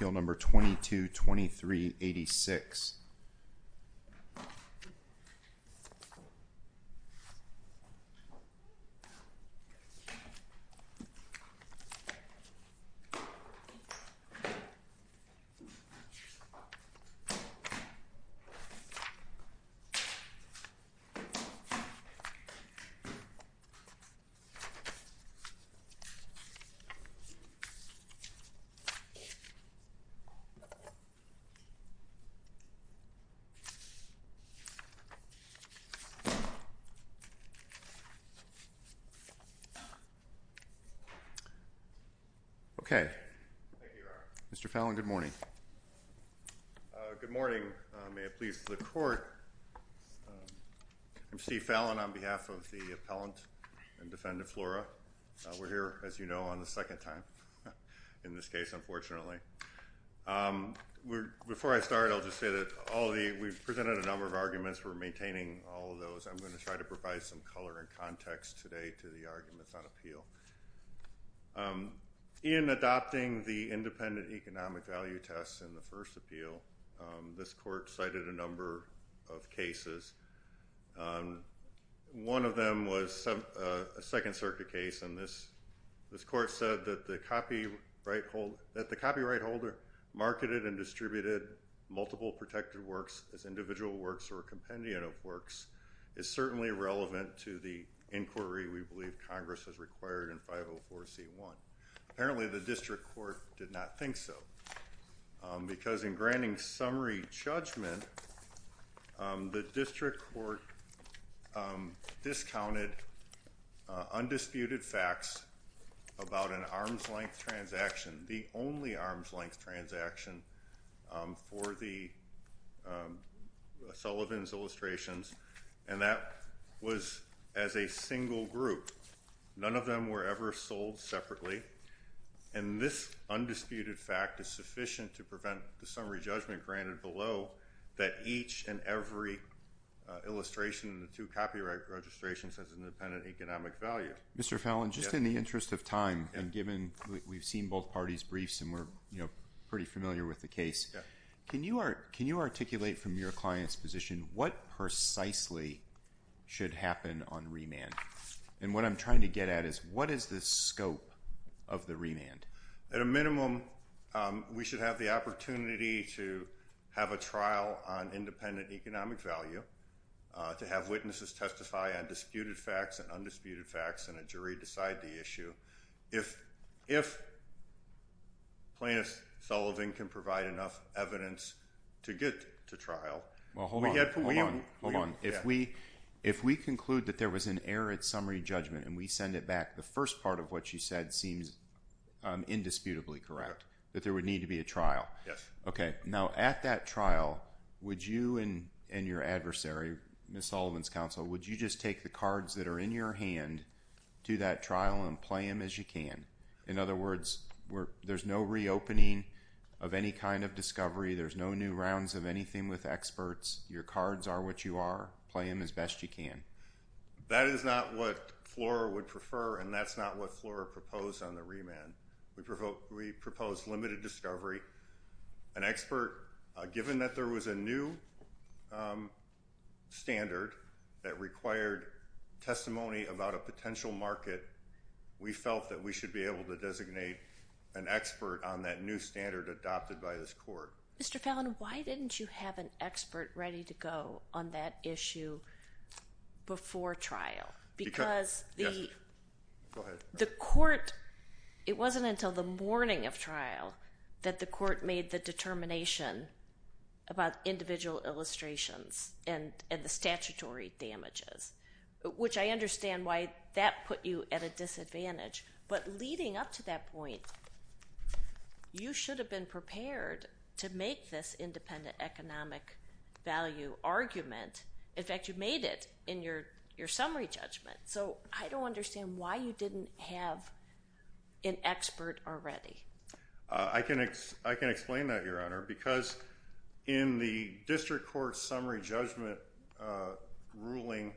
Appeal No. 222386. Good morning. I'm Steve Fallon on behalf of the appellant and defendant Flora. We're here, as you know, on the second time in this case, unfortunately. Before I start, I'll just say that we've presented a number of arguments. We're maintaining all of those. I'm going to try to provide some color and context today to the arguments on appeal. In adopting the independent economic value test in the first appeal, this court cited a number of cases. One of them was a Second Circuit case, and this court said that the copyright holder marketed and distributed multiple protected works as individual works or a compendium of works is certainly relevant to the inquiry we believe Congress has required in 504C1. Apparently, the district court did not think so, because in granting summary judgment, the district court discounted undisputed facts about an arm's length transaction, the only arm's length transaction for the Sullivan's illustrations, and that was as a single group. None of them were ever sold separately, and this undisputed fact is sufficient to prevent the summary judgment granted below that each and every illustration in the two copyright registrations has an independent economic value. Mr. Fallon, just in the interest of time, and given we've seen both parties' briefs and we're pretty familiar with the case, can you articulate from your client's position what precisely should happen on remand? What I'm trying to get at is what is the scope of the remand? At a minimum, we should have the opportunity to have a trial on independent economic value, to have witnesses testify on disputed facts and undisputed facts, and a jury decide the issue. If Plaintiff Sullivan can provide enough evidence to get to trial— Hold on. If we conclude that there was an error at summary judgment and we send it back, the first part of what you said seems indisputably correct, that there would need to be a trial. Yes. Okay. Now, at that trial, would you and your adversary, Ms. Sullivan's counsel, would you just take the cards that are in your hand to that trial and play them as you can? In other words, there's no reopening of any kind of discovery. There's no new rounds of anything with experts. Your cards are what you are. Play them as best you can. That is not what Flora would prefer, and that's not what Flora proposed on the remand. We proposed limited discovery. An expert, given that there was a new standard that required testimony about a potential market, we felt that we should be able to designate an expert on that new standard adopted by this court. Mr. Fallon, why didn't you have an expert ready to go on that issue before trial? Because the court, it wasn't until the morning of trial that the court made the determination about individual illustrations and the statutory damages, which I understand why that put you at a disadvantage. But leading up to that point, you should have been prepared to make this independent economic value argument. In fact, you made it in your summary judgment. So I don't understand why you didn't have an expert already. I can explain that, Your Honor, because in the district court summary judgment ruling,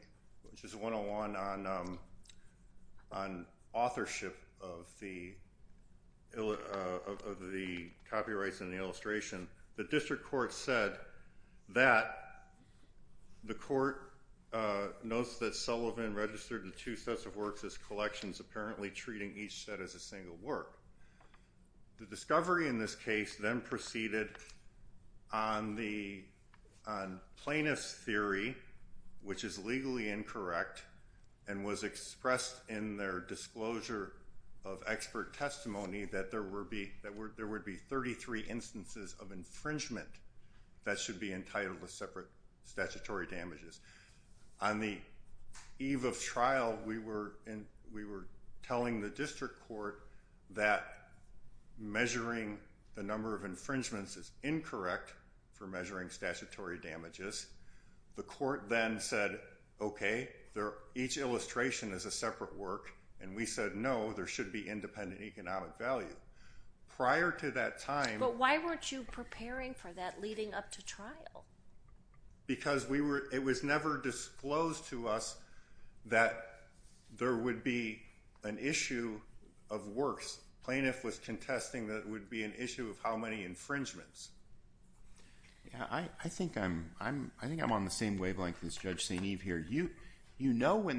which is 101 on authorship of the copyrights and the illustration, the district court said that the court notes that Sullivan registered the two sets of works as collections, apparently treating each set as a single work. The discovery in this case then proceeded on plaintiff's theory, which is legally incorrect and was expressed in their disclosure of expert testimony that there would be 33 instances of infringement that should be entitled to separate statutory damages. On the eve of trial, we were telling the district court that measuring the number of infringements is incorrect for measuring statutory damages. The court then said, okay, each illustration is a separate work. And we said, no, there should be independent economic value. Prior to that time... But why weren't you preparing for that leading up to trial? Because it was never disclosed to us that there would be an issue of works. Plaintiff was contesting that it would be an issue of how many infringements. I think I'm on the same wavelength as Judge St. Eve here. You know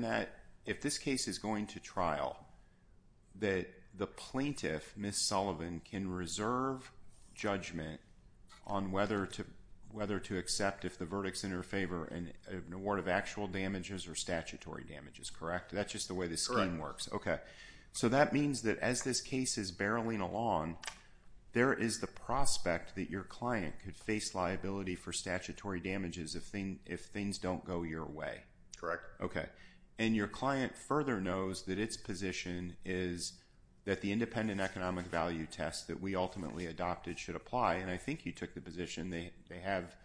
if this case is going to trial that the plaintiff, Ms. Sullivan, can reserve judgment on whether to accept if the verdict is in her favor an award of actual damages or statutory damages, correct? That's just the way the scheme works. Correct. Okay. So that means that as this case is barreling along, there is the prospect that your client could face liability for statutory damages if things don't go your way. Correct. Okay. And your client further knows that its position is that the independent economic value test that we ultimately adopted should apply. And I think you took the position they have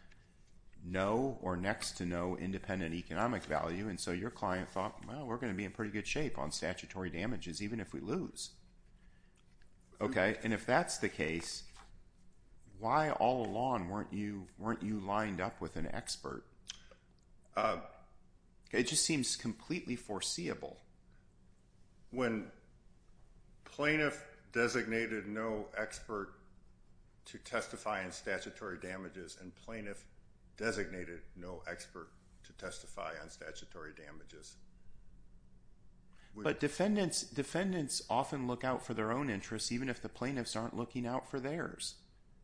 no or next to no independent economic value. And so your client thought, well, we're going to be in pretty good shape on statutory damages even if we lose. Okay. And if that's the case, why all along weren't you lined up with an expert? It just seems completely foreseeable. When plaintiff designated no expert to testify on statutory damages and plaintiff designated no expert to testify on statutory damages. But defendants often look out for their own interests even if the plaintiffs aren't looking out for theirs.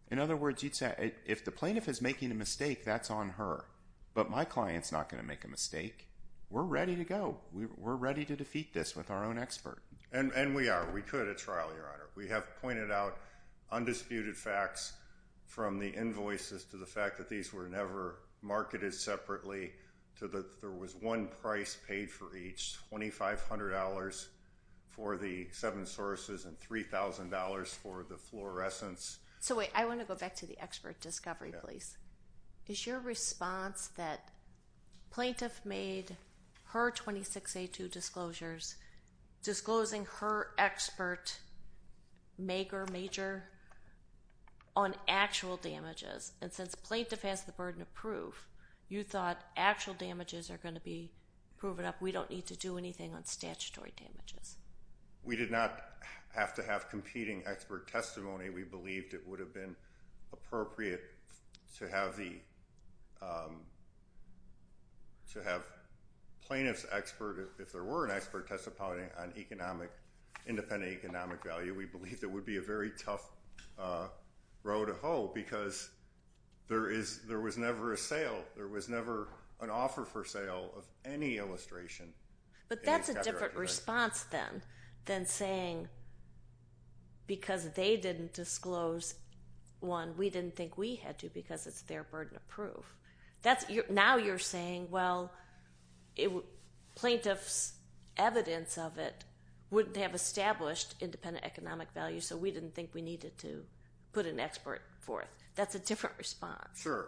In other words, you'd say if the plaintiff is making a mistake, that's on her. But my client's not going to make a mistake. We're ready to go. We're ready to defeat this with our own expert. We could at trial, Your Honor. We have pointed out undisputed facts from the invoices to the fact that these were never marketed separately to that there was one price paid for each, $2,500 for the seven sources and $3,000 for the fluorescents. So wait, I want to go back to the expert discovery, please. Is your response that plaintiff made her 26A2 disclosures disclosing her expert maker, major, on actual damages? And since plaintiff has the burden of proof, you thought actual damages are going to be proven up. We don't need to do anything on statutory damages. We did not have to have competing expert testimony. We believed it would have been appropriate to have plaintiff's expert, if there were an expert testimony, on independent economic value. We believed it would be a very tough row to hoe because there was never a sale. There was never an offer for sale of any illustration. But that's a different response then than saying because they didn't disclose one, we didn't think we had to because it's their burden of proof. Now you're saying, well, plaintiff's evidence of it wouldn't have established independent economic value, so we didn't think we needed to put an expert forth. That's a different response. Sure.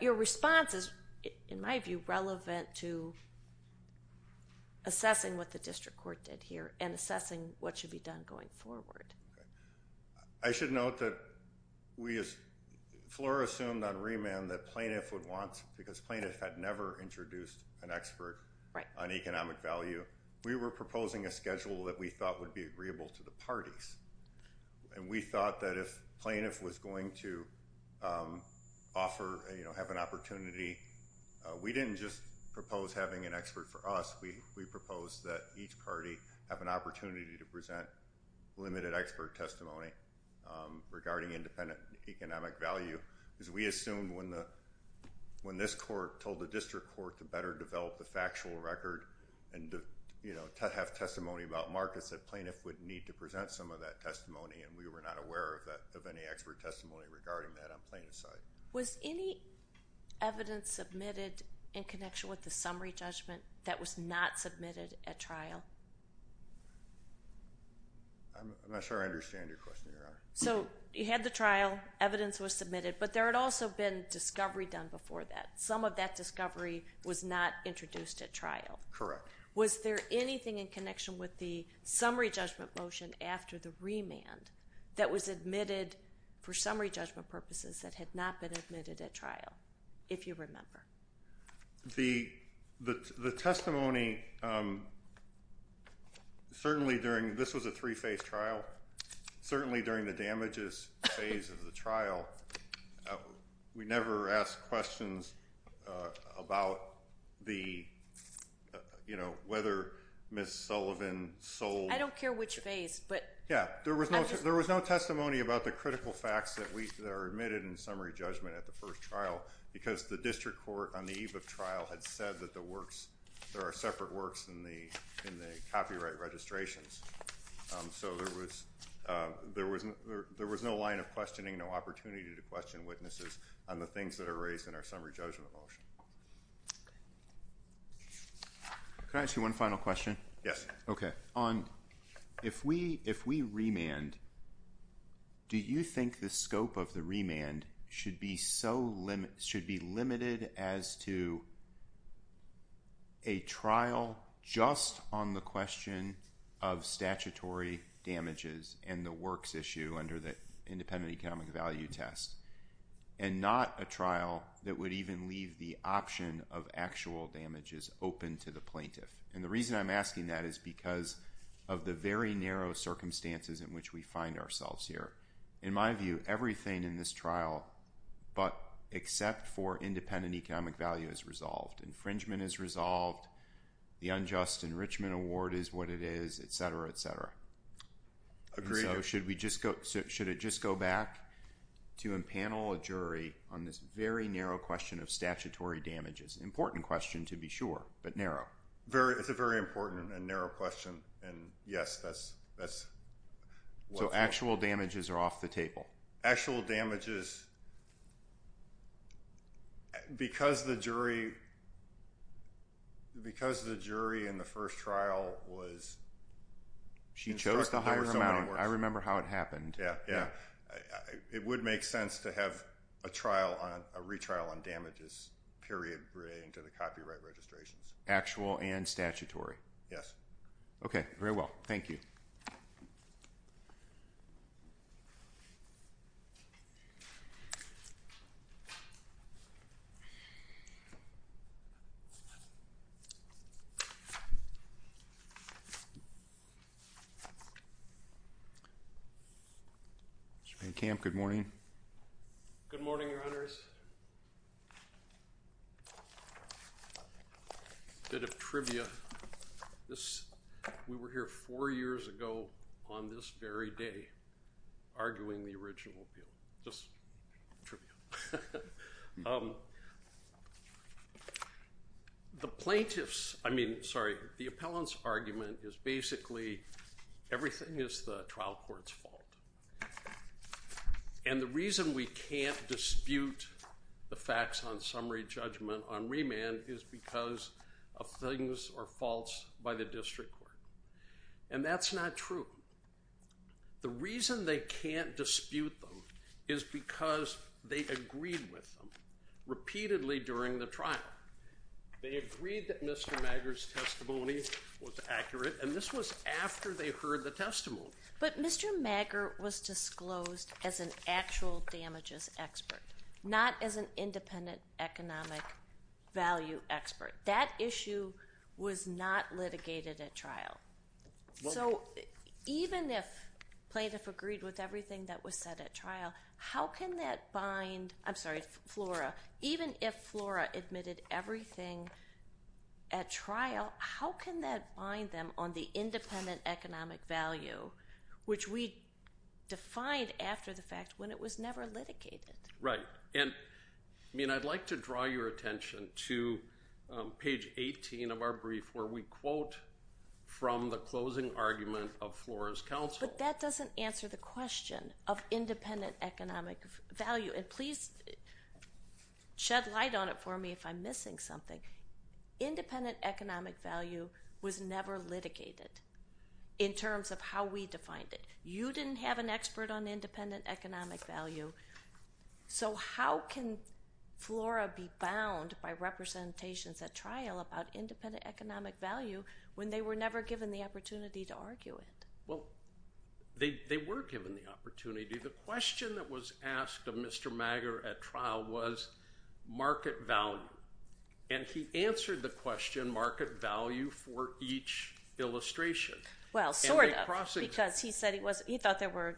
Your response is, in my view, relevant to assessing what the district court did here and assessing what should be done going forward. I should note that Flora assumed on remand that plaintiff would want, because plaintiff had never introduced an expert on economic value, we were proposing a schedule that we thought would be agreeable to the parties. We thought that if plaintiff was going to have an opportunity, we didn't just propose having an expert for us. We proposed that each party have an opportunity to present limited expert testimony regarding independent economic value. Because we assumed when this court told the district court to better develop the factual record and to have testimony about markets, that plaintiff would need to present some of that testimony, and we were not aware of any expert testimony regarding that on plaintiff's side. Was any evidence submitted in connection with the summary judgment that was not submitted at trial? I'm not sure I understand your question, Your Honor. So you had the trial, evidence was submitted, but there had also been discovery done before that. Some of that discovery was not introduced at trial. Correct. Was there anything in connection with the summary judgment motion after the remand that was admitted for summary judgment purposes that had not been admitted at trial, if you remember? The testimony, certainly during, this was a three-phase trial, certainly during the damages phase of the trial, we never asked questions about the, you know, whether Ms. Sullivan sold... I don't care which phase, but... Yeah, there was no testimony about the critical facts that are admitted in summary judgment at the first trial because the district court on the eve of trial had said that there are separate works in the copyright registrations. So there was no line of questioning, no opportunity to question witnesses on the things that are raised in our summary judgment motion. Can I ask you one final question? Yes. If we remand, do you think the scope of the remand should be limited as to a trial just on the question of statutory damages and the works issue under the independent economic value test, and not a trial that would even leave the option of actual damages open to the plaintiff? And the reason I'm asking that is because of the very narrow circumstances in which we find ourselves here. In my view, everything in this trial but except for independent economic value is resolved. Infringement is resolved. The unjust enrichment award is what it is, et cetera, et cetera. Agreed. So should we just go, should it just go back to empanel a jury on this very narrow question of statutory damages? Important question to be sure, but narrow. It's a very important and narrow question, and yes, that's what's important. So actual damages are off the table? Actual damages, because the jury in the first trial was instructed there were so many works. She chose the higher amount. I remember how it happened. Yeah, yeah. It would make sense to have a retrial on damages, period, relating to the copyright registrations. Actual and statutory? Yes. Okay. Very well. Thank you. Mr. Payne Camp, good morning. Good morning, Your Honors. A bit of trivia. We were here four years ago on this very day arguing the original appeal. Just trivia. The plaintiffs, I mean, sorry, the appellant's argument is basically everything is the trial court's fault. And the reason we can't dispute the facts on summary judgment on remand is because of things are false by the district court. And that's not true. The reason they can't dispute them is because they agreed with them repeatedly during the trial. They agreed that Mr. Maggar's testimony was accurate, and this was after they heard the testimony. But Mr. Maggar was disclosed as an actual damages expert, not as an independent economic value expert. That issue was not litigated at trial. So even if plaintiff agreed with everything that was said at trial, how can that bind? I'm sorry, Flora. Even if Flora admitted everything at trial, how can that bind them on the independent economic value, which we defined after the fact when it was never litigated? Right. And, I mean, I'd like to draw your attention to page 18 of our brief where we quote from the closing argument of Flora's counsel. But that doesn't answer the question of independent economic value. And please shed light on it for me if I'm missing something. Independent economic value was never litigated in terms of how we defined it. You didn't have an expert on independent economic value. So how can Flora be bound by representations at trial about independent economic value when they were never given the opportunity to argue it? Well, they were given the opportunity. The question that was asked of Mr. Maggar at trial was market value. And he answered the question market value for each illustration. Well, sort of, because he said he thought there were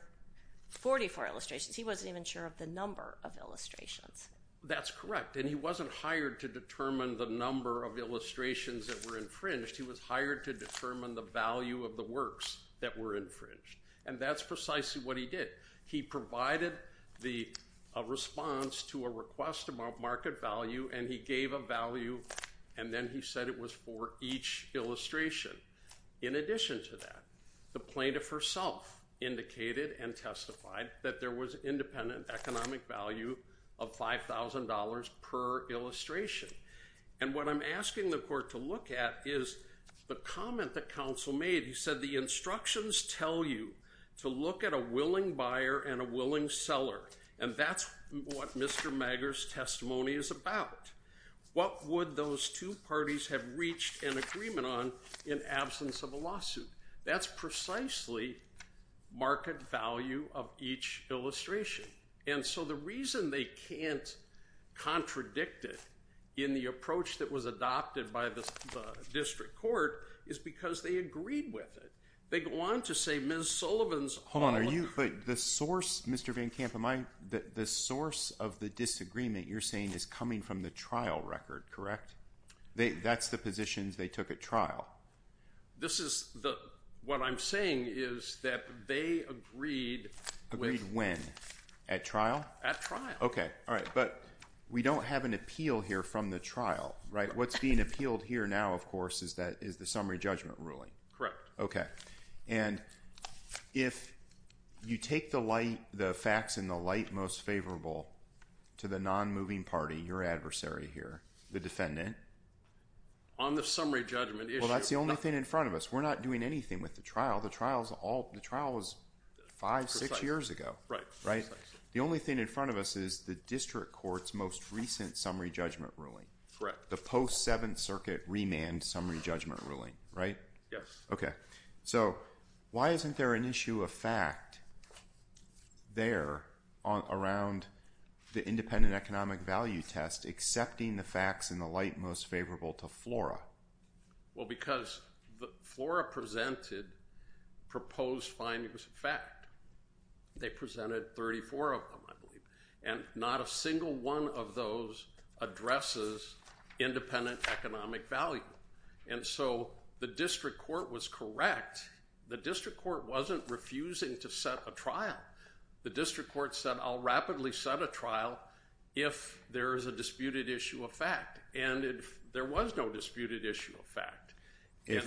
44 illustrations. He wasn't even sure of the number of illustrations. That's correct. And he wasn't hired to determine the number of illustrations that were infringed. He was hired to determine the value of the works that were infringed. And that's precisely what he did. He provided a response to a request of market value, and he gave a value, and then he said it was for each illustration. In addition to that, the plaintiff herself indicated and testified that there was independent economic value of $5,000 per illustration. And what I'm asking the court to look at is the comment that counsel made. He said the instructions tell you to look at a willing buyer and a willing seller, and that's what Mr. Maggar's testimony is about. What would those two parties have reached an agreement on in absence of a lawsuit? That's precisely market value of each illustration. And so the reason they can't contradict it in the approach that was adopted by the district court is because they agreed with it. Hold on. The source, Mr. Van Kampen, the source of the disagreement you're saying is coming from the trial record, correct? That's the positions they took at trial. What I'm saying is that they agreed. Agreed when? At trial? At trial. Okay. All right. But we don't have an appeal here from the trial, right? What's being appealed here now, of course, is the summary judgment ruling. Correct. Okay. And if you take the facts in the light most favorable to the non-moving party, your adversary here, the defendant. On the summary judgment issue. Well, that's the only thing in front of us. We're not doing anything with the trial. The trial was five, six years ago, right? Right. The only thing in front of us is the district court's most recent summary judgment ruling. Correct. The post-Seventh Circuit remand summary judgment ruling, right? Yes. Okay. So why isn't there an issue of fact there around the independent economic value test accepting the facts in the light most favorable to FLORA? Well, because FLORA presented proposed findings of fact. They presented 34 of them, I believe. And not a single one of those addresses independent economic value. And so the district court was correct. The district court wasn't refusing to set a trial. The district court said, I'll rapidly set a trial if there is a disputed issue of fact. And there was no disputed issue of fact. If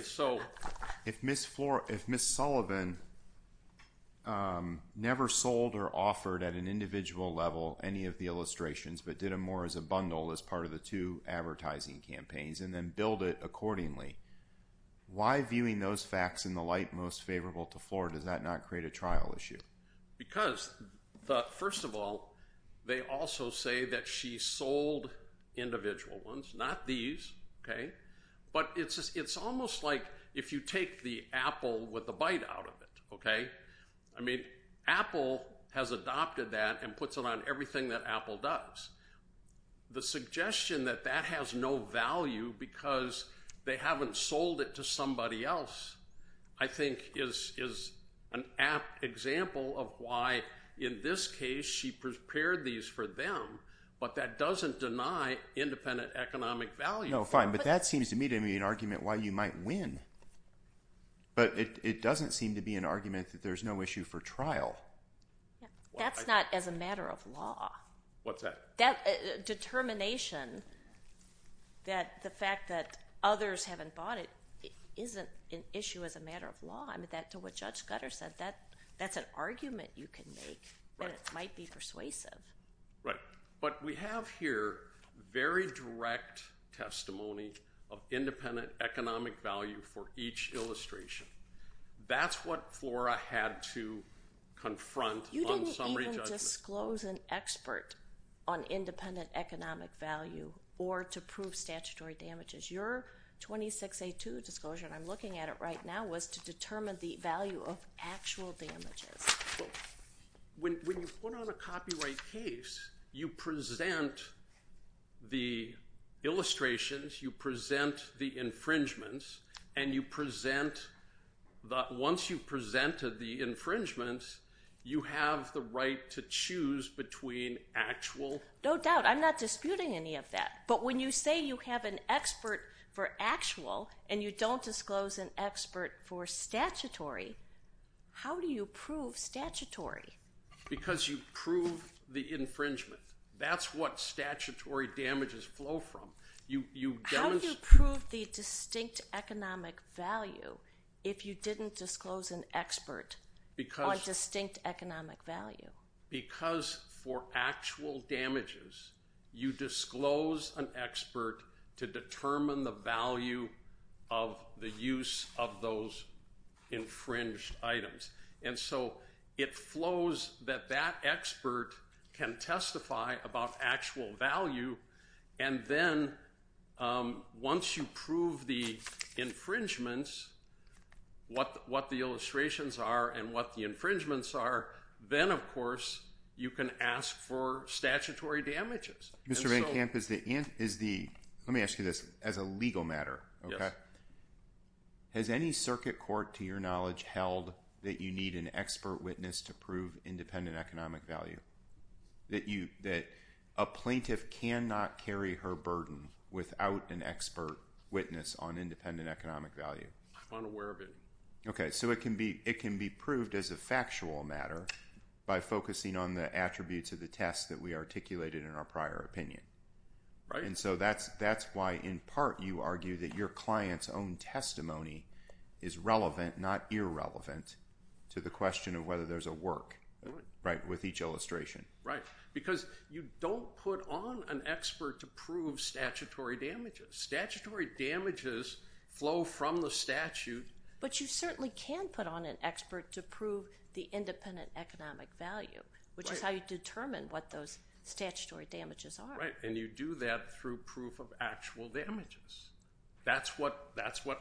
Ms. Sullivan never sold or offered at an individual level any of the illustrations but did them more as a bundle as part of the two advertising campaigns and then billed it accordingly, why, viewing those facts in the light most favorable to FLORA, does that not create a trial issue? Because, first of all, they also say that she sold individual ones, not these, okay? But it's almost like if you take the apple with the bite out of it, okay? I mean, Apple has adopted that and puts it on everything that Apple does. The suggestion that that has no value because they haven't sold it to somebody else, I think, is an apt example of why, in this case, she prepared these for them, but that doesn't deny independent economic value. No, fine, but that seems to me to be an argument why you might win. But it doesn't seem to be an argument that there's no issue for trial. That's not as a matter of law. What's that? That determination that the fact that others haven't bought it isn't an issue as a matter of law. I mean, to what Judge Scudder said, that's an argument you can make, and it might be persuasive. Right, but we have here very direct testimony of independent economic value for each illustration. That's what FLORA had to confront on summary judgment. You can't disclose an expert on independent economic value or to prove statutory damages. Your 26A2 disclosure, and I'm looking at it right now, was to determine the value of actual damages. When you put on a copyright case, you present the illustrations, you present the infringements, and once you've presented the infringements, you have the right to choose between actual. No doubt. I'm not disputing any of that. But when you say you have an expert for actual and you don't disclose an expert for statutory, how do you prove statutory? Because you prove the infringement. That's what statutory damages flow from. How do you prove the distinct economic value if you didn't disclose an expert on distinct economic value? Because for actual damages, you disclose an expert to determine the value of the use of those infringed items. And so it flows that that expert can testify about actual value, and then once you prove the infringements, what the illustrations are and what the infringements are, then, of course, you can ask for statutory damages. Mr. Van Kamp, let me ask you this. As a legal matter, has any circuit court, to your knowledge, held that you need an expert witness to prove independent economic value? That a plaintiff cannot carry her burden without an expert witness on independent economic value? I'm unaware of it. Okay, so it can be proved as a factual matter by focusing on the attributes of the test that we articulated in our prior opinion. And so that's why, in part, you argue that your client's own testimony is relevant, not irrelevant, to the question of whether there's a work with each illustration. Right, because you don't put on an expert to prove statutory damages. Statutory damages flow from the statute. But you certainly can put on an expert to prove the independent economic value, which is how you determine what those statutory damages are. Right, and you do that through proof of actual damages. That's what actual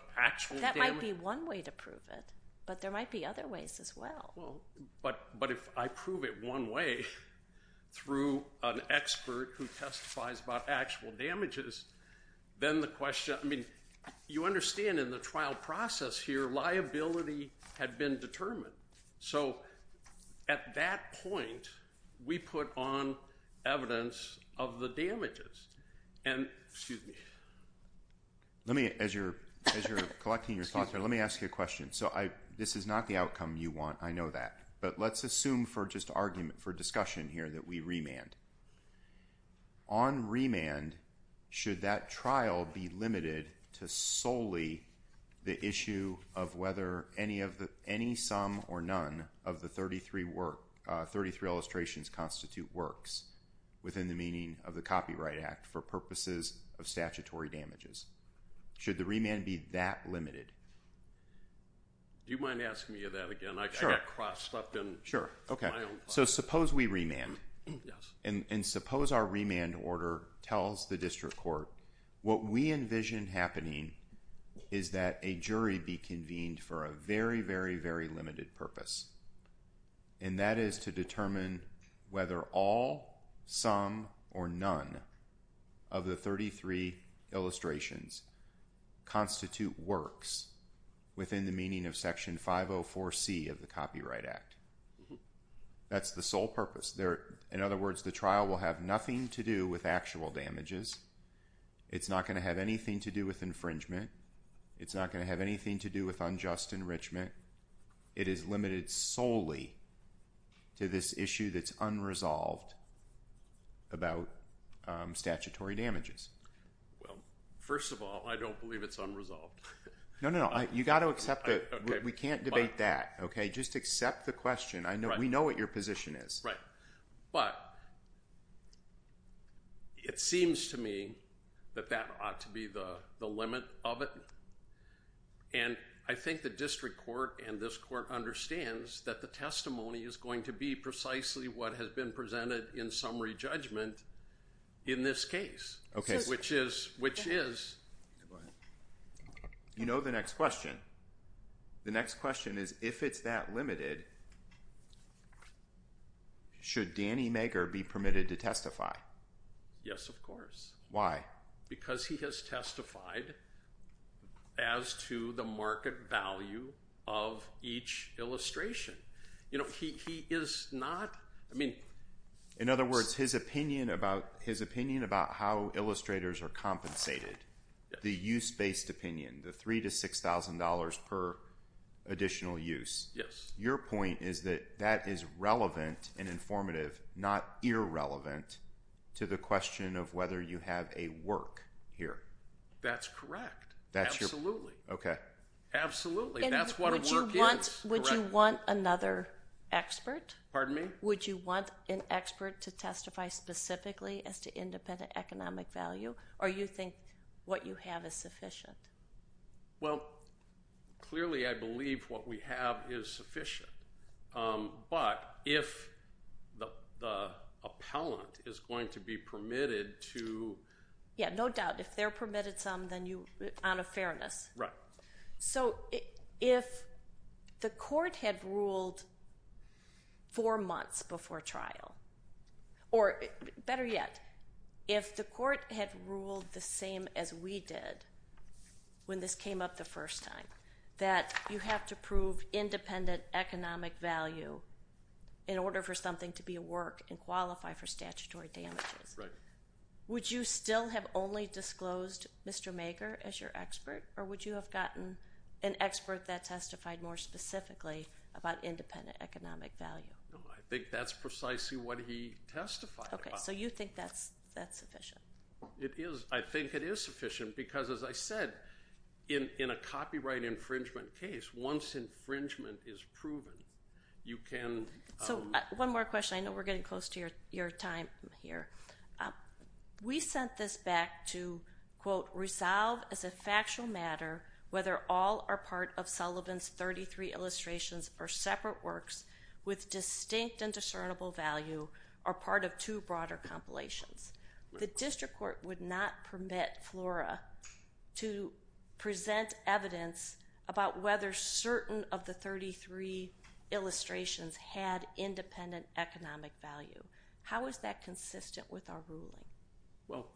damage- That might be one way to prove it, but there might be other ways as well. But if I prove it one way through an expert who testifies about actual damages, then the question- I mean, you understand in the trial process here, liability had been determined. So at that point, we put on evidence of the damages. And, excuse me- Let me, as you're collecting your thoughts here, let me ask you a question. So this is not the outcome you want, I know that. But let's assume for just argument, for discussion here, that we remand. On remand, should that trial be limited to solely the issue of whether any sum or none of the 33 illustrations constitute works within the meaning of the Copyright Act for purposes of statutory damages? Should the remand be that limited? Do you mind asking me that again? I got crossed up in my own thoughts. So suppose we remand. And suppose our remand order tells the district court, what we envision happening is that a jury be convened for a very, very, very limited purpose. And that is to determine whether all, some, or none of the 33 illustrations constitute works within the meaning of Section 504C of the Copyright Act. That's the sole purpose. In other words, the trial will have nothing to do with actual damages. It's not going to have anything to do with infringement. It's not going to have anything to do with unjust enrichment. It is limited solely to this issue that's unresolved about statutory damages. Well, first of all, I don't believe it's unresolved. No, no, no. You've got to accept that. We can't debate that. Just accept the question. We know what your position is. Right. But it seems to me that that ought to be the limit of it. And I think the district court and this court understands that the testimony is going to be precisely what has been presented in summary judgment in this case. Okay. Which is, which is. You know, the next question. The next question is, if it's that limited, should Danny Mager be permitted to testify? Yes, of course. Why? Because he has testified as to the market value of each illustration. You know, he is not. I mean, in other words, his opinion about his opinion about how illustrators are compensated, the use based opinion, the three to six thousand dollars per additional use. Your point is that that is relevant and informative, not irrelevant to the question of whether you have a work here. That's correct. That's your. Absolutely. Okay. Absolutely. That's what a work is. Would you want another expert? Pardon me? Would you want an expert to testify specifically as to independent economic value? Or you think what you have is sufficient? Well, clearly, I believe what we have is sufficient. But if the appellant is going to be permitted to. Yeah, no doubt. If they're permitted some, then you on a fairness. Right. So if the court had ruled four months before trial, or better yet, if the court had ruled the same as we did when this came up the first time, that you have to prove independent economic value in order for something to be a work and qualify for statutory damages. Right. Would you still have only disclosed Mr. Mager as your expert? Or would you have gotten an expert that testified more specifically about independent economic value? I think that's precisely what he testified about. Okay. So you think that's sufficient? It is. I think it is sufficient because, as I said, in a copyright infringement case, once infringement is proven, you can. So one more question. I know we're getting close to your time here. We sent this back to, quote, resolve as a factual matter whether all are part of Sullivan's 33 illustrations or separate works with distinct and discernible value are part of two broader compilations. The district court would not permit FLORA to present evidence about whether certain of the 33 illustrations had independent economic value. How is that consistent with our ruling? Well,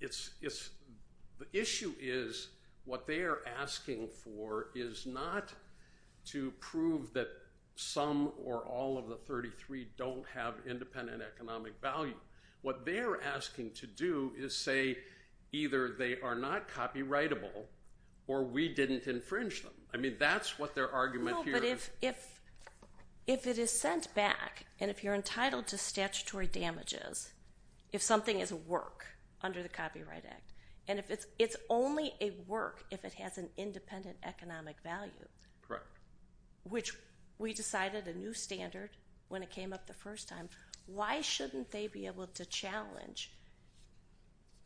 the issue is what they are asking for is not to prove that some or all of the 33 don't have independent economic value. What they're asking to do is say either they are not copyrightable or we didn't infringe them. I mean, that's what their argument here is. But if it is sent back and if you're entitled to statutory damages, if something is a work under the Copyright Act, and if it's only a work if it has an independent economic value, which we decided a new standard when it came up the first time, why shouldn't they be able to challenge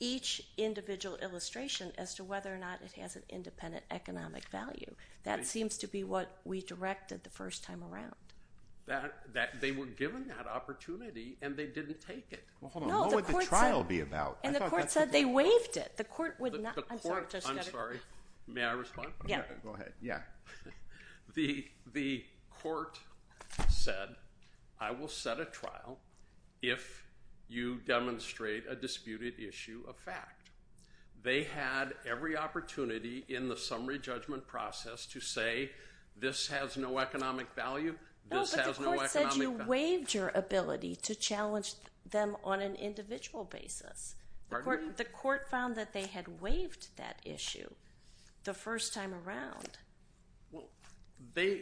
each individual illustration as to whether or not it has an independent economic value? That seems to be what we directed the first time around. They were given that opportunity and they didn't take it. Well, hold on. What would the trial be about? And the court said they waived it. The court would not. I'm sorry. May I respond? Go ahead. Yeah. The court said, I will set a trial if you demonstrate a disputed issue of fact. They had every opportunity in the summary judgment process to say this has no economic value, this has no economic value. No, but the court said you waived your ability to challenge them on an individual basis. Pardon me? The court found that they had waived that issue the first time around. Well, the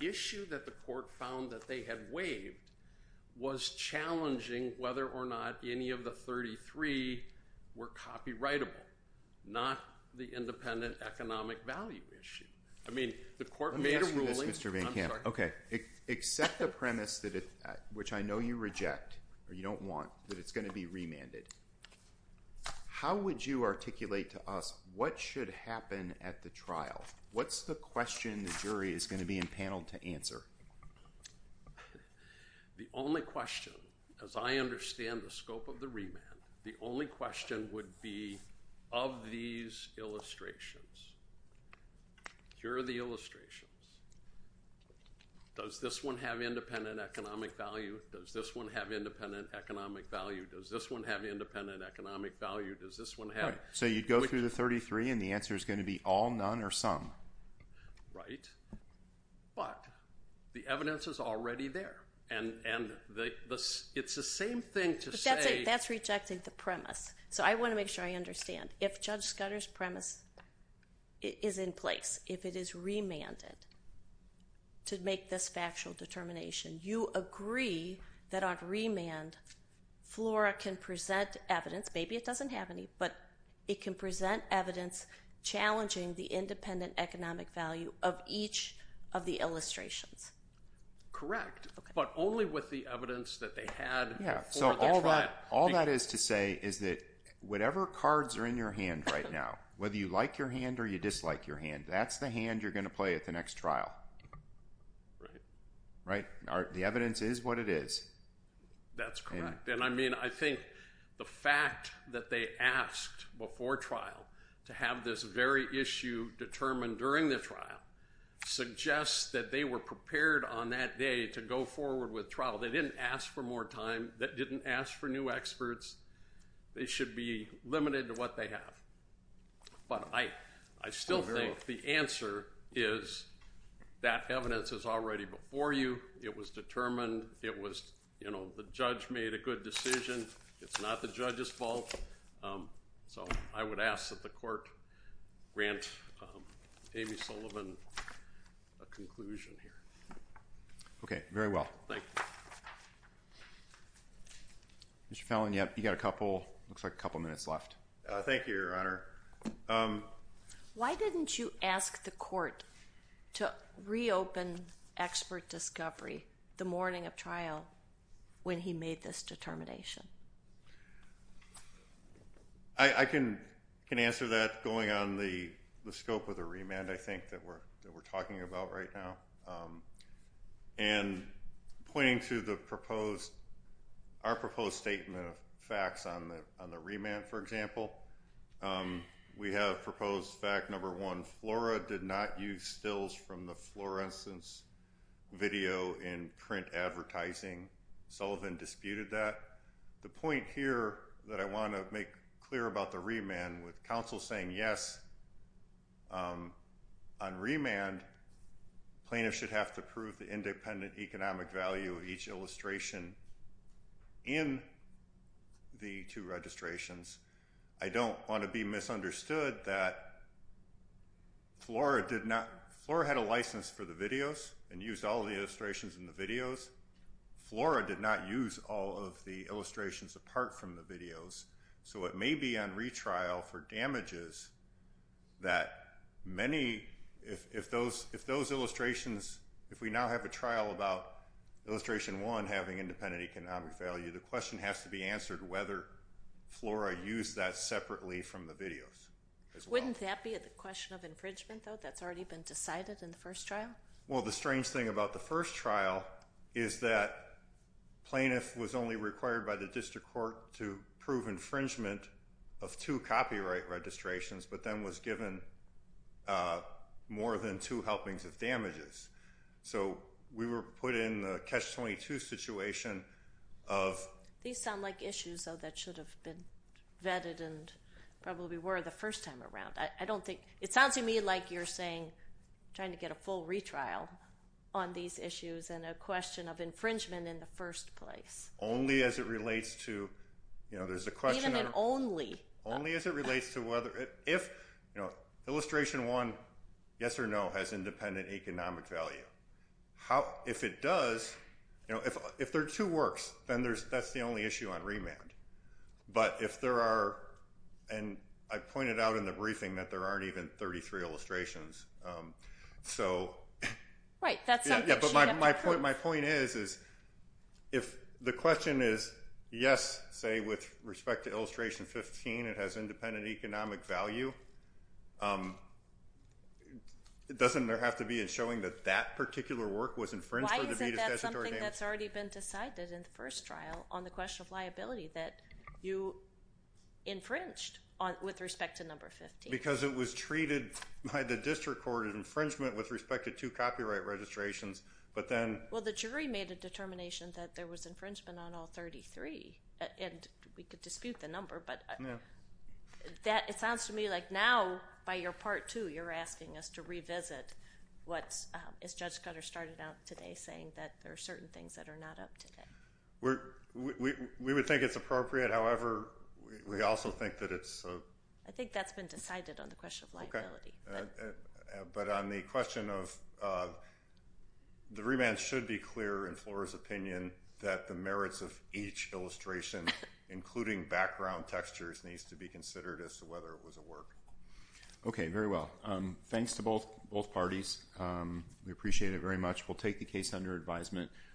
issue that the court found that they had waived was challenging whether or not any of the 33 were copyrightable, not the independent economic value issue. I mean, the court made a ruling. Let me ask you this, Mr. Van Kamp. I'm sorry. Okay. Accept the premise, which I know you reject or you don't want, that it's going to be remanded. How would you articulate to us what should happen at the trial? What's the question the jury is going to be empaneled to answer? The only question, as I understand the scope of the remand, the only question would be of these illustrations. Here are the illustrations. Does this one have independent economic value? Does this one have independent economic value? Does this one have independent economic value? Does this one have? So you'd go through the 33, and the answer is going to be all, none, or some. Right, but the evidence is already there, and it's the same thing to say— If Judge Scudder's premise is in place, if it is remanded to make this factual determination, you agree that on remand, FLORA can present evidence. Maybe it doesn't have any, but it can present evidence challenging the independent economic value of each of the illustrations. Correct, but only with the evidence that they had before the trial. All that is to say is that whatever cards are in your hand right now, whether you like your hand or you dislike your hand, that's the hand you're going to play at the next trial. Right. Right? The evidence is what it is. That's correct, and I mean, I think the fact that they asked before trial to have this very issue determined during the trial suggests that they were prepared on that day to go forward with trial. They didn't ask for more time. They didn't ask for new experts. They should be limited to what they have, but I still think the answer is that evidence is already before you. It was determined. It was, you know, the judge made a good decision. It's not the judge's fault, so I would ask that the court grant Amy Sullivan a conclusion here. Okay, very well. Thank you. Mr. Fallon, you've got a couple minutes left. Thank you, Your Honor. Why didn't you ask the court to reopen expert discovery the morning of trial when he made this determination? I can answer that going on the scope of the remand, I think, that we're talking about right now. And pointing to our proposed statement of facts on the remand, for example, we have proposed fact number one, Flora did not use stills from the Florence video in print advertising. Sullivan disputed that. The point here that I want to make clear about the remand with counsel saying yes, on remand, plaintiffs should have to prove the independent economic value of each illustration in the two registrations. I don't want to be misunderstood that Flora did not Flora had a license for the videos and used all the illustrations in the videos. Flora did not use all of the illustrations apart from the videos. So it may be on retrial for damages that many, if those illustrations, if we now have a trial about illustration one having independent economic value, the question has to be answered whether Flora used that separately from the videos. Wouldn't that be the question of infringement, though, that's already been decided in the first trial? Well, the strange thing about the first trial is that plaintiff was only required by the district court to prove infringement of two copyright registrations, but then was given more than two helpings of damages. So we were put in the catch-22 situation of... These sound like issues, though, that should have been vetted and probably were the first time around. It sounds to me like you're saying trying to get a full retrial on these issues and a question of infringement in the first place. Only as it relates to... Even an only. Only as it relates to whether... If illustration one, yes or no, has independent economic value, if it does, if there are two works, then that's the only issue on remand. But if there are... And I pointed out in the briefing that there aren't even 33 illustrations, so... Right, that's something... Yeah, but my point is if the question is yes, say, with respect to illustration 15, it has independent economic value, doesn't there have to be a showing that that particular work was infringed... That's something that's already been decided in the first trial on the question of liability, that you infringed with respect to number 15. Because it was treated by the district court as infringement with respect to two copyright registrations, but then... Well, the jury made a determination that there was infringement on all 33, and we could dispute the number, but... Yeah. It sounds to me like now, by your part two, you're asking us to revisit what, as Judge Cutter started out today, saying that there are certain things that are not up to date. We would think it's appropriate. However, we also think that it's... I think that's been decided on the question of liability. But on the question of... The remand should be clear in Flora's opinion that the merits of each illustration, including background textures, needs to be considered as to whether it was a work. Okay, very well. Thanks to both parties. We appreciate it very much. We'll take the case under advisement.